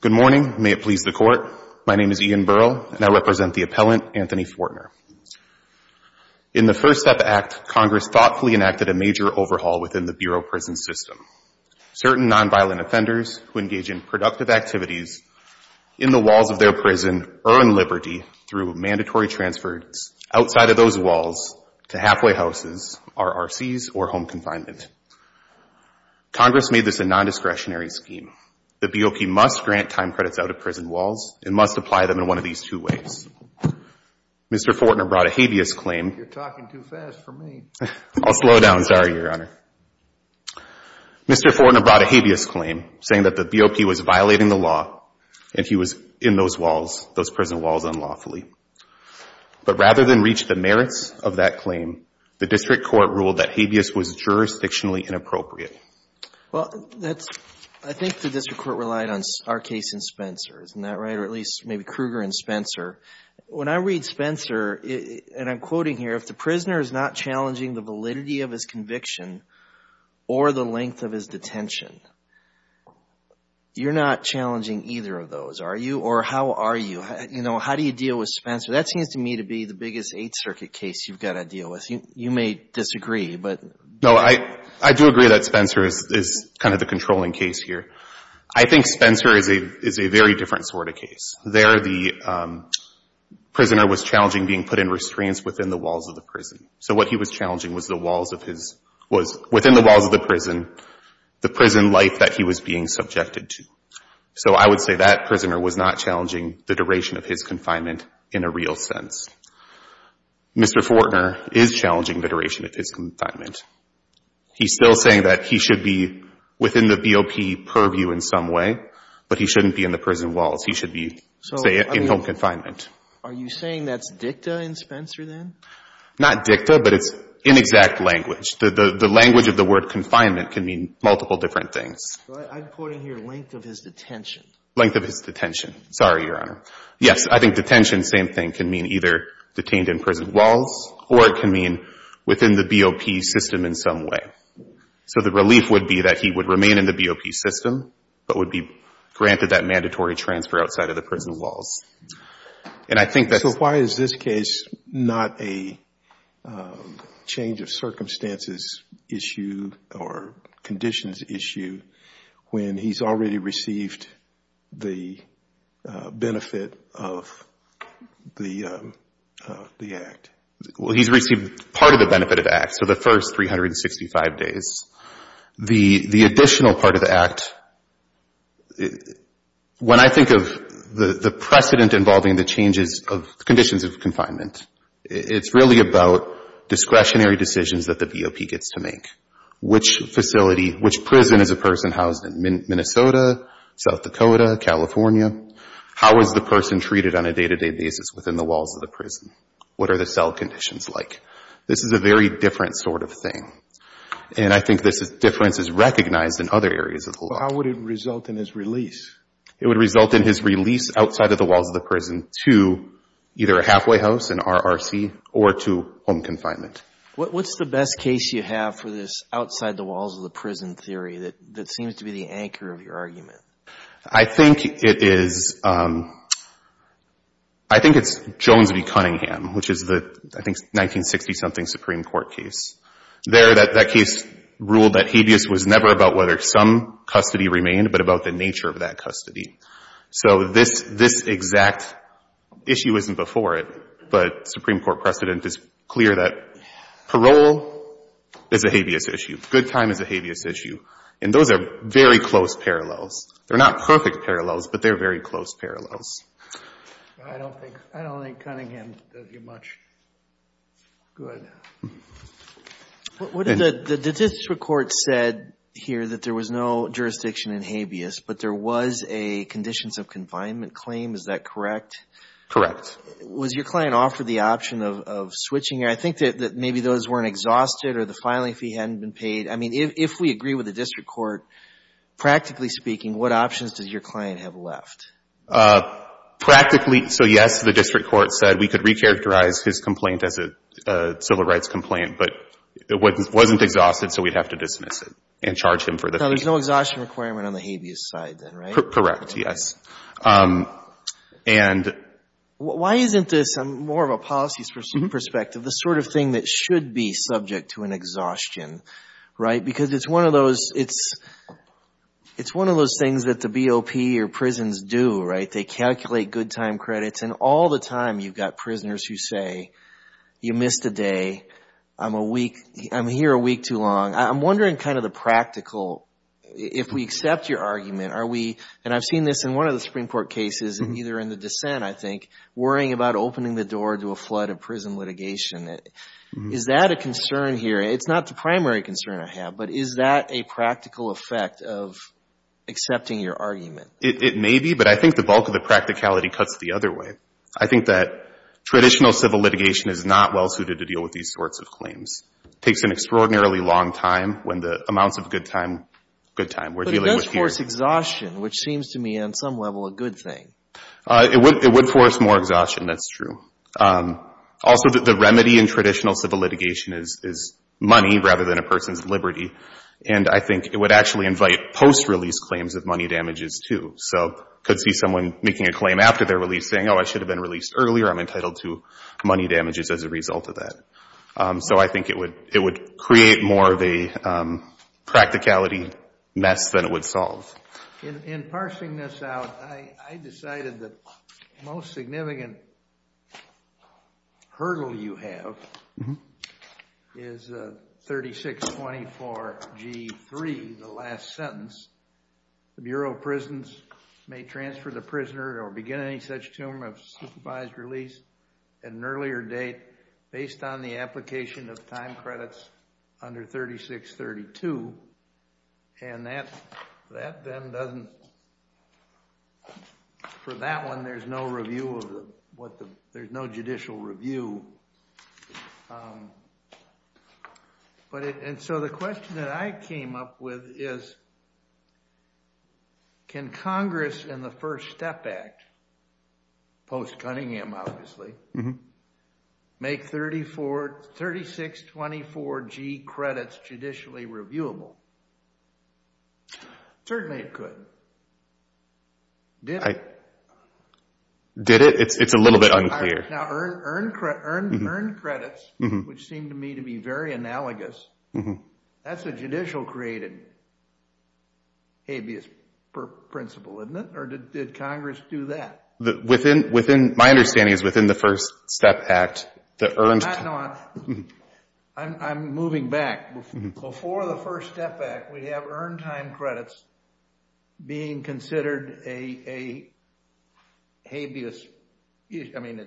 Good morning. May it please the Court. My name is Ian Burrell, and I represent the appellant, Anthony Fortner. In the First Step Act, Congress thoughtfully enacted a major overhaul within the Bureau prison system. Certain nonviolent offenders who engage in productive activities in the walls of their prison earn liberty through mandatory transfers outside of those Congress made this a nondiscretionary scheme. The BOP must grant time credits out of prison walls and must apply them in one of these two ways. Mr. Fortner brought a habeas claim You're talking too fast for me. I'll slow down. Sorry, Your Honor. Mr. Fortner brought a habeas claim saying that the BOP was violating the law and he was in those walls, those prison walls unlawfully. But rather than reach the merits of that claim, the district court ruled that habeas was jurisdictionally inappropriate. Well, I think the district court relied on our case and Spencer, isn't that right? Or at least maybe Kruger and Spencer. When I read Spencer, and I'm quoting here, if the prisoner is not challenging the validity of his conviction or the length of his detention, you're not challenging either of those, are you? Or how are you? You know, how do you deal with Spencer? That seems to me to be the biggest Eighth Circuit case you've got to deal with. You may disagree, but No, I do agree that Spencer is kind of the controlling case here. I think Spencer is a very different sort of case. There the prisoner was challenging being put in restraints within the walls of the prison. So what he was challenging was the walls of his, was within the walls of the prison, the prison life that he was being subjected to. So I will say that prisoner was not challenging the duration of his confinement in a real sense. Mr. Fortner is challenging the duration of his confinement. He's still saying that he should be within the BOP purview in some way, but he shouldn't be in the prison walls. He should be, say, in home confinement. Are you saying that's dicta in Spencer then? Not dicta, but it's inexact language. The language of the word confinement can mean multiple different things. I'm quoting here length of his detention. Length of his detention. Sorry, Your Honor. Yes, I think detention, same thing, can mean either detained in prison walls or it can mean within the BOP system in some way. So the relief would be that he would remain in the BOP system but would be granted that mandatory transfer outside of the prison walls. And I think that's So why is this case not a change of circumstances issue or conditions issue when he's already received the benefit of the Act? Well, he's received part of the benefit of the Act, so the first 365 days. The additional part of the Act, when I think of the precedent involving the changes of conditions of confinement, it's really about discretionary decisions that the BOP gets to make. Which facility, which prison is a person housed in? Minnesota, South Dakota, California? How is the person treated on a day-to-day basis within the walls of the prison? What are the cell conditions like? This is a very different sort of thing, and I think this difference is recognized in other areas of the law. How would it result in his release? It would result in his release outside of the walls of the prison to either a halfway house, an RRC, or to home confinement. What's the best case you have for this outside-the-walls-of-the-prison theory that seems to be the anchor of your argument? I think it's Jones v. Cunningham, which is the, I think, 1960-something Supreme Court case. There, that case ruled that habeas was never about whether some custody remained, but about the nature of that custody. So this exact issue isn't before it, but Supreme Court precedent is clear that parole is a habeas issue. Good time is a habeas issue. And those are very close parallels. They're not perfect parallels, but they're very close parallels. I don't think Cunningham does it much good. The district court said here that there was no jurisdiction in habeas, but there was a conditions of confinement claim. Is that correct? Correct. Was your client offered the option of switching? I think that maybe those weren't exhausted or the filing fee hadn't been paid. I mean, if we agree with the district court, practically speaking, what options does your client have left? Practically, so yes, the district court said we could recharacterize his complaint as a civil rights complaint, but it wasn't exhausted, so we'd have to dismiss it and charge him for the thing. Now, there's no exhaustion requirement on the habeas side, then, right? Correct, yes. And... Why isn't this, more of a policy perspective, the sort of thing that should be subject to an exhaustion, right? Because it's one of those things that the BOP or prisons do, right? They calculate good time credits, and all the time you've got prisoners who say, you missed a day, I'm here a week too long. I'm wondering kind of the practical, if we accept your argument, are we, and I've seen this in one of the Supreme Court cases, either in the dissent, I think, worrying about opening the door to a flood of prison litigation. Is that a concern here? It's not the primary concern I have, but is that a practical effect of accepting your argument? It may be, but I think the bulk of the practicality cuts the other way. I think that traditional civil litigation is not well suited to deal with these sorts of claims. It takes an extraordinarily long time when the amounts of good time, good time, we're dealing with here. But it does force exhaustion, which seems to me, on some level, a good thing. It would force more exhaustion, that's true. Also, the remedy in traditional civil litigation is money, rather than a person's liberty. And I think it would actually invite post-release claims of money damages, too. So you could see someone making a claim after their release saying, oh, I should have been released earlier, I'm entitled to money damages as a result of that. So I think it would create more of a practicality mess than it would solve. In parsing this out, I decided the most significant hurdle you have is 3624 G3, the last sentence. The Bureau of Prisons may transfer the prisoner or begin any such term of supervised release at an earlier date based on the application of time credits under 3632. And for that one, there's no judicial review. And so the question that I came up with is, can Congress in the First Step Act, post-Cunningham obviously, make 3624 G credits judicially reviewable? Certainly it could. Did it? It's a little bit unclear. Now, earned credits, which seem to me to be very analogous, that's a judicial-created habeas principle, isn't it? Or did Congress do that? My understanding is within the First Step Act, the earned... I'm moving back. Before the First Step Act, we have earned time credits being considered a habeas, I mean,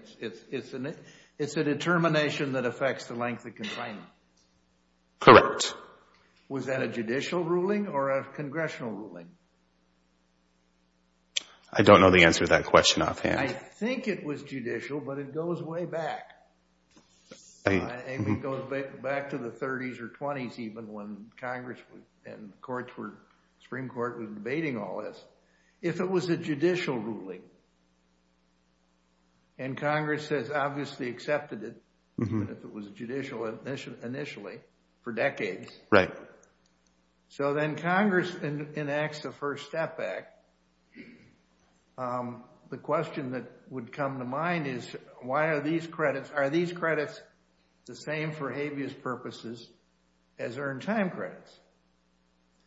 it's a determination that affects the length of confinement. Correct. Was that a judicial ruling or a congressional ruling? I don't know the answer to that question offhand. I think it was judicial, but it goes way back. And it goes back to the 30s or 20s even when Congress and courts were... Supreme Court was debating all this. If it was a judicial ruling, and Congress has obviously accepted it, even if it was judicial initially, for decades. Right. So then Congress enacts the First Step Act. The question that would come to mind is, why are these credits... Are these credits the same for habeas purposes as earned time credits?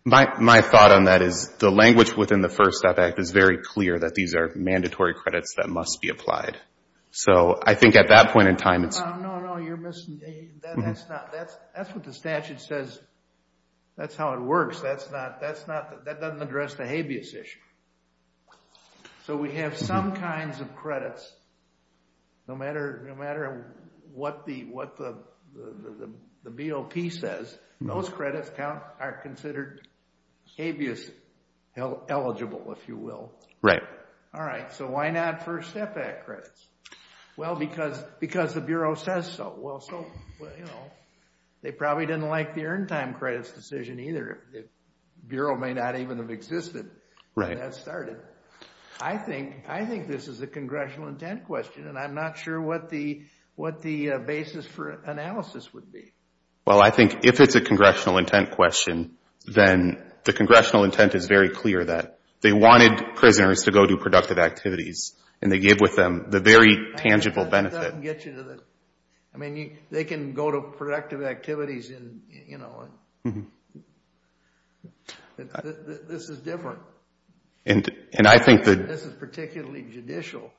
My thought on that is the language within the First Step Act is very clear that these are mandatory credits that must be applied. So I think at that point in time, it's... No, no, no, you're missing... That's not... That's what the statute says. That's how it works. That's not... That doesn't address the habeas issue. So we have some kinds of credits, no matter what the BOP says, those credits are considered habeas eligible, if you will. Right. All right, so why not First Step Act credits? Well, because the Bureau says so. Well, so, you know, they probably didn't like the earned time credits decision either. The Bureau may not even have existed when that started. I think this is a congressional intent question, and I'm not sure what the basis for analysis would be. Well, I think if it's a congressional intent question, then the congressional intent is very clear that they wanted prisoners to go to productive activities, and they gave with them the very tangible benefit. That doesn't get you to the... I mean, they can go to productive activities and, you know, this is different. And I think that... This is particularly judicial,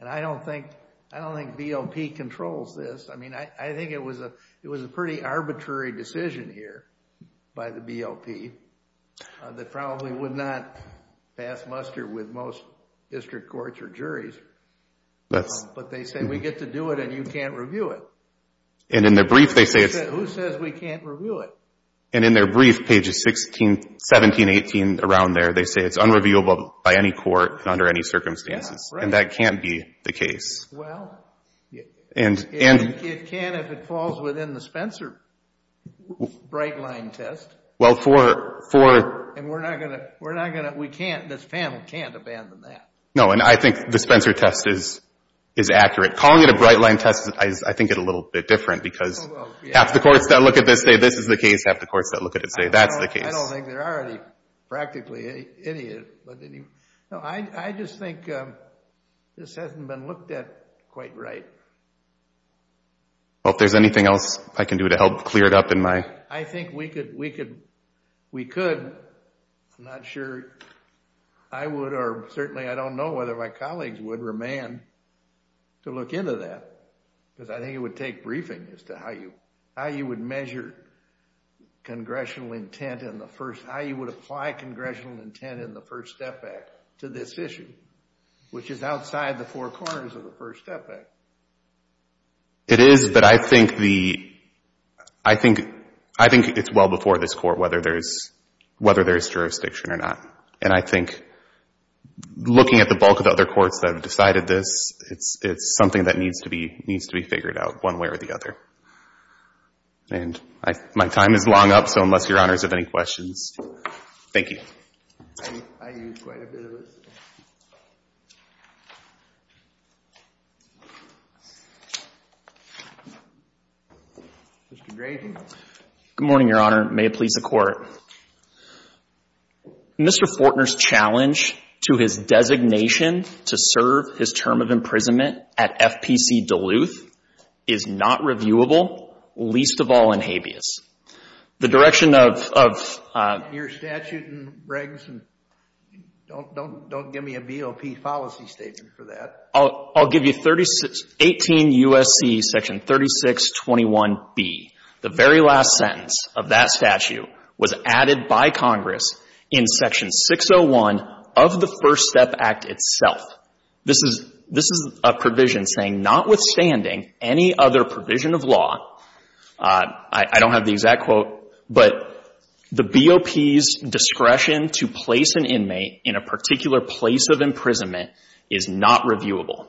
and I don't think BOP controls this. I mean, I think it was a pretty arbitrary decision here by the BOP that probably would not pass muster with most district courts or juries. But they say we get to do it, and you can't review it. And in their brief, they say it's... Who says we can't review it? And in their brief, pages 16, 17, 18, around there, they say it's unreviewable by any court under any circumstances, and that can't be the case. Well, it can if it falls within the Spencer Brightline test. Well, for... And we're not going to... We can't... This panel can't abandon that. No, and I think the Spencer test is accurate. Calling it a Brightline test, I think it's a little bit different because half the courts that look at this say this is the case. Half the courts that look at it say that's the case. I don't think there are any practically any... No, I just think this hasn't been looked at quite right. Well, if there's anything else I can do to help clear it up in my... I think we could. I'm not sure I would, or certainly I don't know whether my colleagues would, remand to look into that, because I think it would take briefing as to how you would measure congressional intent in the first... How you would apply congressional intent in the first step back to this issue, which is outside the four corners of the first step back. It is, but I think the... I think it's well before this court, whether there's jurisdiction or not. And I think looking at the bulk of the other courts that have decided this, it's something that needs to be figured out one way or the other. And my time is long up, so unless Your Honors have any questions... Thank you. I used quite a bit of it. Mr. Grayson. Good morning, Your Honor. May it please the Court. Mr. Fortner's challenge to his designation to serve his term of imprisonment at FPC Duluth is not reviewable, least of all in habeas. The direction of... Your statute and regs and... Don't give me a BOP policy statement for that. I'll give you 18 U.S.C. section 3621B. The very last sentence of that statute was added by Congress in section 601 of the First Step Act itself. This is a provision saying, notwithstanding any other provision of law, I don't have the exact quote, but the BOP's discretion to place an inmate in a particular place of imprisonment is not reviewable.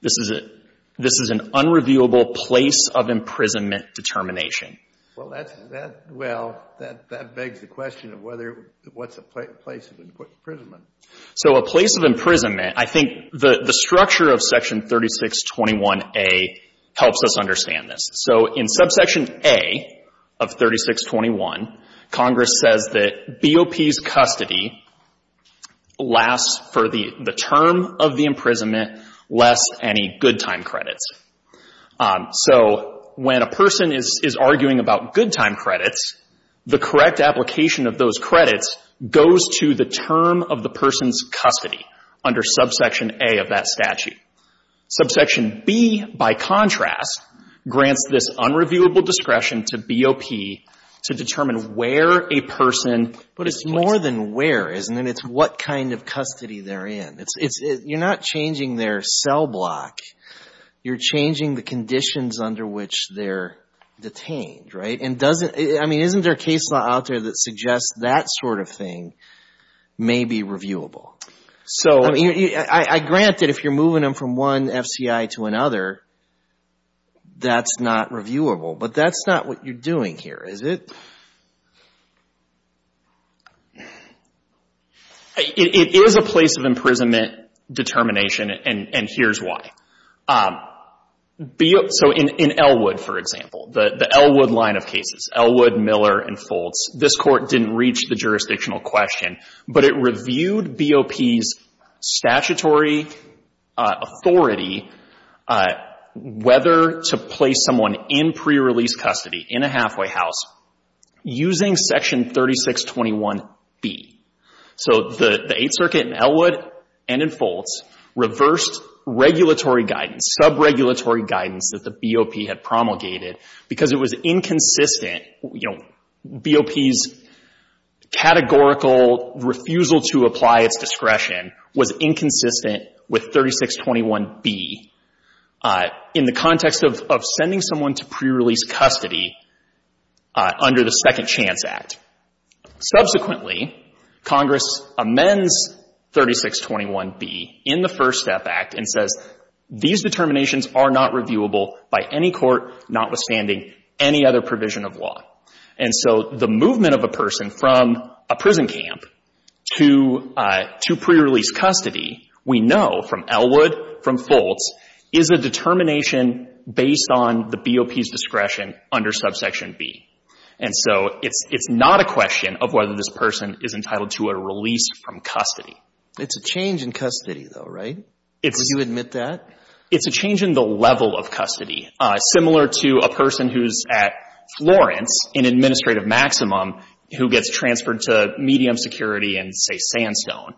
This is an unreviewable place of imprisonment determination. Well, that begs the question of what's a place of imprisonment. So a place of imprisonment, I think the structure of section 3621A helps us understand this. So in subsection A of 3621, Congress says that BOP's custody lasts for the term of the imprisonment, less any good time credits. So when a person is arguing about good time credits, the correct application of those credits goes to the term of the person's custody under subsection A of that statute. Subsection B, by contrast, grants this unreviewable discretion to BOP to determine where a person is placed. But it's more than where, isn't it? It's what kind of custody they're in. You're not changing their cell block. You're changing the conditions under which they're detained, right? I mean, isn't there a case law out there that suggests that sort of thing may be reviewable? I grant that if you're moving them from one FCI to another, that's not reviewable, but that's not what you're doing here, is it? It is a place of imprisonment determination, and here's why. So in Elwood, for example, the Elwood line of cases, Elwood, Miller, and Foltz, this Court didn't reach the jurisdictional question, but it reviewed BOP's statutory authority whether to place someone in pre-release custody, in a halfway house, using Section 3621B. So the Eighth Circuit in Elwood and in Foltz reversed regulatory guidance, sub-regulatory guidance that the BOP had promulgated, because it was inconsistent, you know, BOP's categorical refusal to apply its discretion was inconsistent with 3621B in the context of sending someone to pre-release custody under the Second Chance Act. Subsequently, Congress amends 3621B in the First Step Act and says, these determinations are not reviewable by any court, notwithstanding any other provision of law. And so the movement of a person from a prison camp to pre-release custody, we know from Elwood, from Foltz, is a determination based on the BOP's discretion under Subsection B. And so it's not a question of whether this person is entitled to a release from custody. It's a change in custody, though, right? Do you admit that? It's a change in the level of custody. Similar to a person who's at Florence in Administrative Maximum who gets transferred to medium security in, say, Sandstone,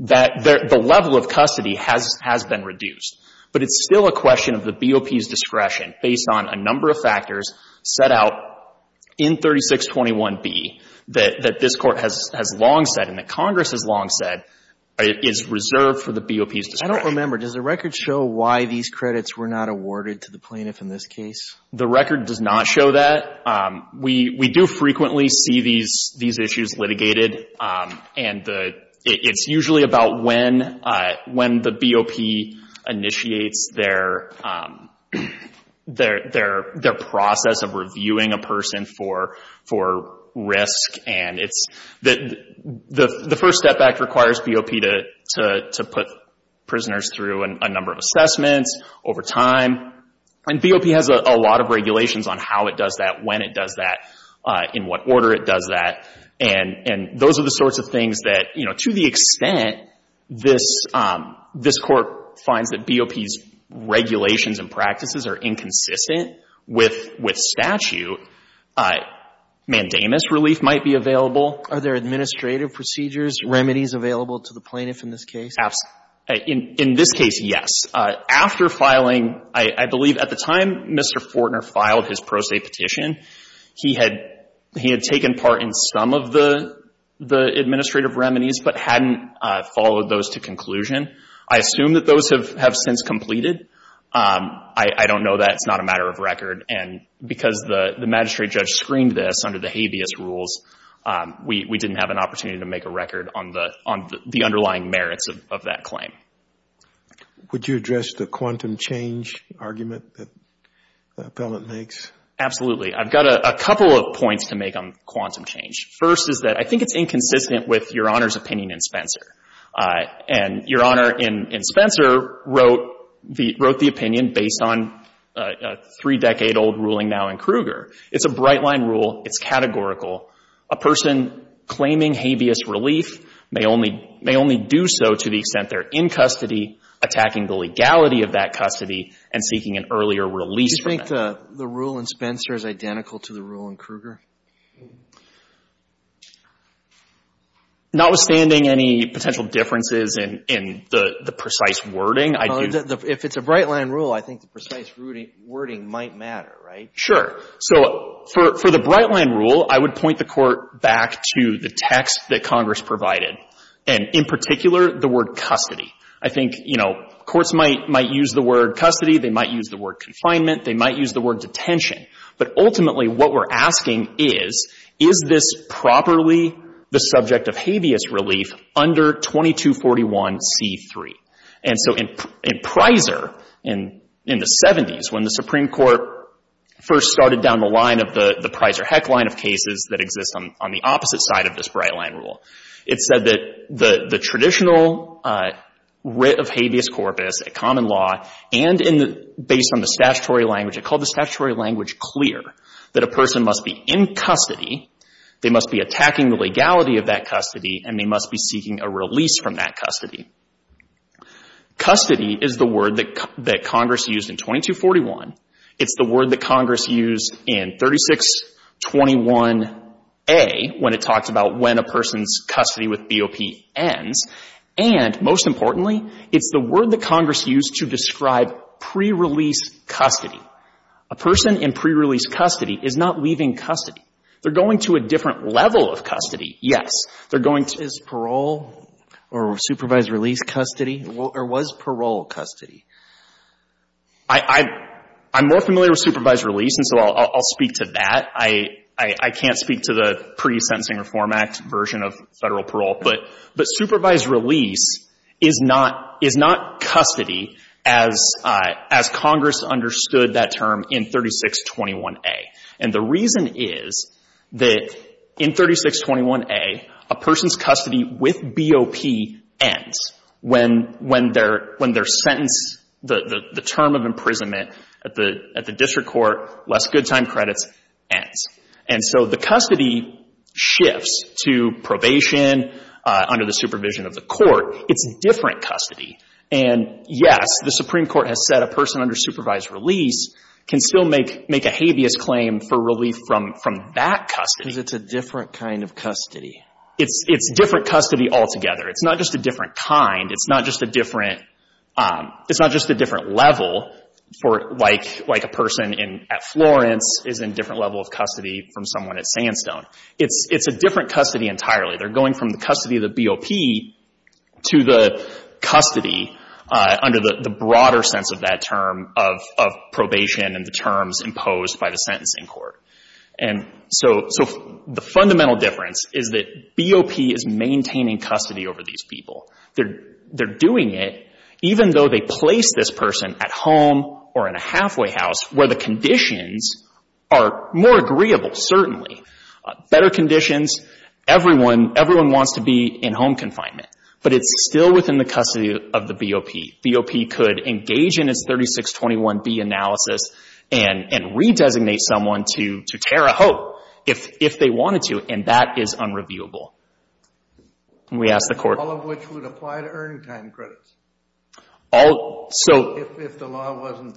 that the level of custody has been reduced. But it's still a question of the BOP's discretion based on a number of factors set out in 3621B that this Court has long said and that Congress has long said is reserved for the BOP's discretion. I don't remember. Does the record show why these credits were not awarded to the plaintiff in this case? The record does not show that. We do frequently see these issues litigated. And it's usually about when the BOP initiates their process of reviewing a person for risk. And the First Step Act requires BOP to put prisoners through a number of assessments over time. And BOP has a lot of regulations on how it does that, when it does that, in what order it does that. And those are the sorts of things that, to the extent this Court finds that BOP's regulations and practices are inconsistent with statute, mandamus relief might be available. Are there administrative procedures, remedies available to the plaintiff in this case? In this case, yes. After filing, I believe at the time Mr. Fortner filed his pro se petition, he had taken part in some of the administrative remedies but hadn't followed those to conclusion. I assume that those have since completed. I don't know that. It's not a matter of record. And because the magistrate judge screened this under the habeas rules, we didn't have an opportunity to make a record on the underlying merits of that claim. Would you address the quantum change argument that the appellant makes? Absolutely. I've got a couple of points to make on quantum change. First is that I think it's inconsistent with Your Honor's opinion in Spencer. And Your Honor, in Spencer, wrote the opinion based on a three-decade-old ruling now in Kruger. It's a bright-line rule. It's categorical. A person claiming habeas relief may only do so to the extent they're in custody, attacking the legality of that custody, and seeking an earlier release from it. Do you think the rule in Spencer is identical to the rule in Kruger? Notwithstanding any potential differences in the precise wording, I do think Well, if it's a bright-line rule, I think the precise wording might matter, right? Sure. So for the bright-line rule, I would point the Court back to the text that Congress provided, and in particular, the word custody. I think, you know, courts might use the word custody. They might use the word confinement. They might use the word detention. But ultimately, what we're asking is, is this properly the subject of habeas relief under 2241c3? And so in Prizer, in the 70s, when the Supreme Court first started down the line of the Prizer-Heck line of cases that exist on the opposite side of this bright-line rule, it said that the traditional writ of habeas corpus, a common law, and based on the statutory language, it called the statutory language clear, that a person must be in custody, they must be attacking the legality of that custody, and they must be seeking a release from that custody. Custody is the word that Congress used in 2241. It's the word that Congress used in 3621a, when it talks about when a person's custody with BOP ends. And most importantly, it's the word that Congress used to describe pre-release custody. A person in pre-release custody is not leaving custody. They're going to a different level of custody. Yes. They're going to the parole or supervised release custody. Or was parole custody? I'm more familiar with supervised release, and so I'll speak to that. I can't speak to the pre-sentencing Reform Act version of Federal parole. But supervised release is not custody as Congress understood that term in 3621a. And the reason is that in 3621a, a person's custody with BOP ends when their sentence, the term of imprisonment at the district court, less good time credits, ends. And so the custody shifts to probation under the supervision of the court. It's different custody. And, yes, the Supreme Court has said a person under supervised release can still make a habeas claim for relief from that custody. Because it's a different kind of custody. It's different custody altogether. It's not just a different kind. It's not just a different level for, like, a person at Florence is in a different level of custody from someone at Sandstone. It's a different custody entirely. They're going from the custody of the BOP to the custody under the broader sense of that term of probation and the terms imposed by the sentencing court. And so the fundamental difference is that BOP is maintaining custody over these people. They're doing it even though they place this person at home or in a halfway house where the conditions are more agreeable, certainly. Better conditions, everyone wants to be in home confinement. But it's still within the custody of the BOP. BOP could engage in its 3621B analysis and redesignate someone to Tara Hope if they wanted to. And that is unreviewable. And we asked the court. All of which would apply to earned time credits if the law wasn't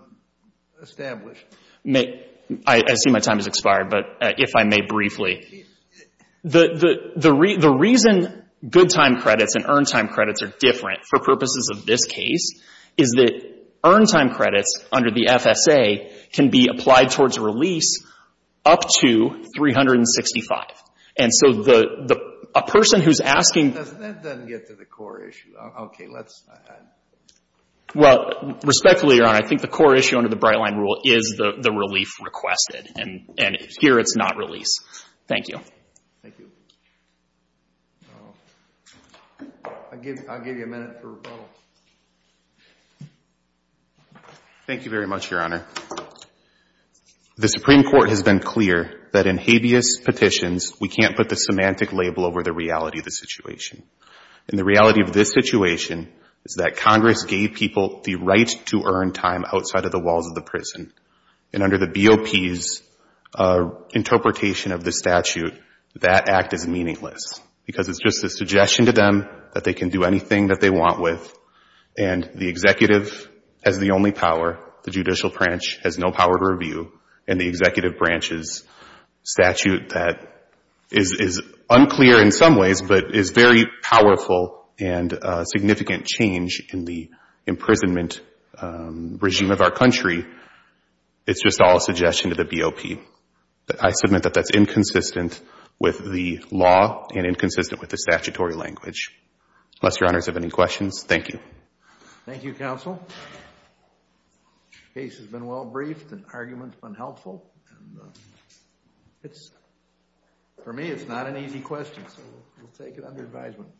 established. I see my time has expired, but if I may briefly. The reason good time credits and earned time credits are different for purposes of this case is that earned time credits under the FSA can be applied towards release up to 365. And so a person who's asking. That doesn't get to the core issue. Okay, let's. Well, respectfully, Your Honor, I think the core issue under the Brightline rule is the relief requested. And here it's not release. Thank you. Thank you. I'll give you a minute for rebuttal. Thank you very much, Your Honor. The Supreme Court has been clear that in habeas petitions, we can't put the semantic label over the reality of the situation. And the reality of this situation is that Congress gave people the right to earn time outside of the walls of the prison. And under the BOP's interpretation of the statute, that act is meaningless. Because it's just a suggestion to them that they can do anything that they want with. And the executive has the only power. The judicial branch has no power to review. And the executive branch's statute that is unclear in some ways, but is very powerful and significant change in the imprisonment regime of our country. It's just all a suggestion to the BOP. I submit that that's inconsistent with the law and inconsistent with the statutory language. Unless Your Honors have any questions. Thank you. Thank you, Counsel. Case has been well briefed. The argument's been helpful. For me, it's not an easy question. So we'll take it under advisement.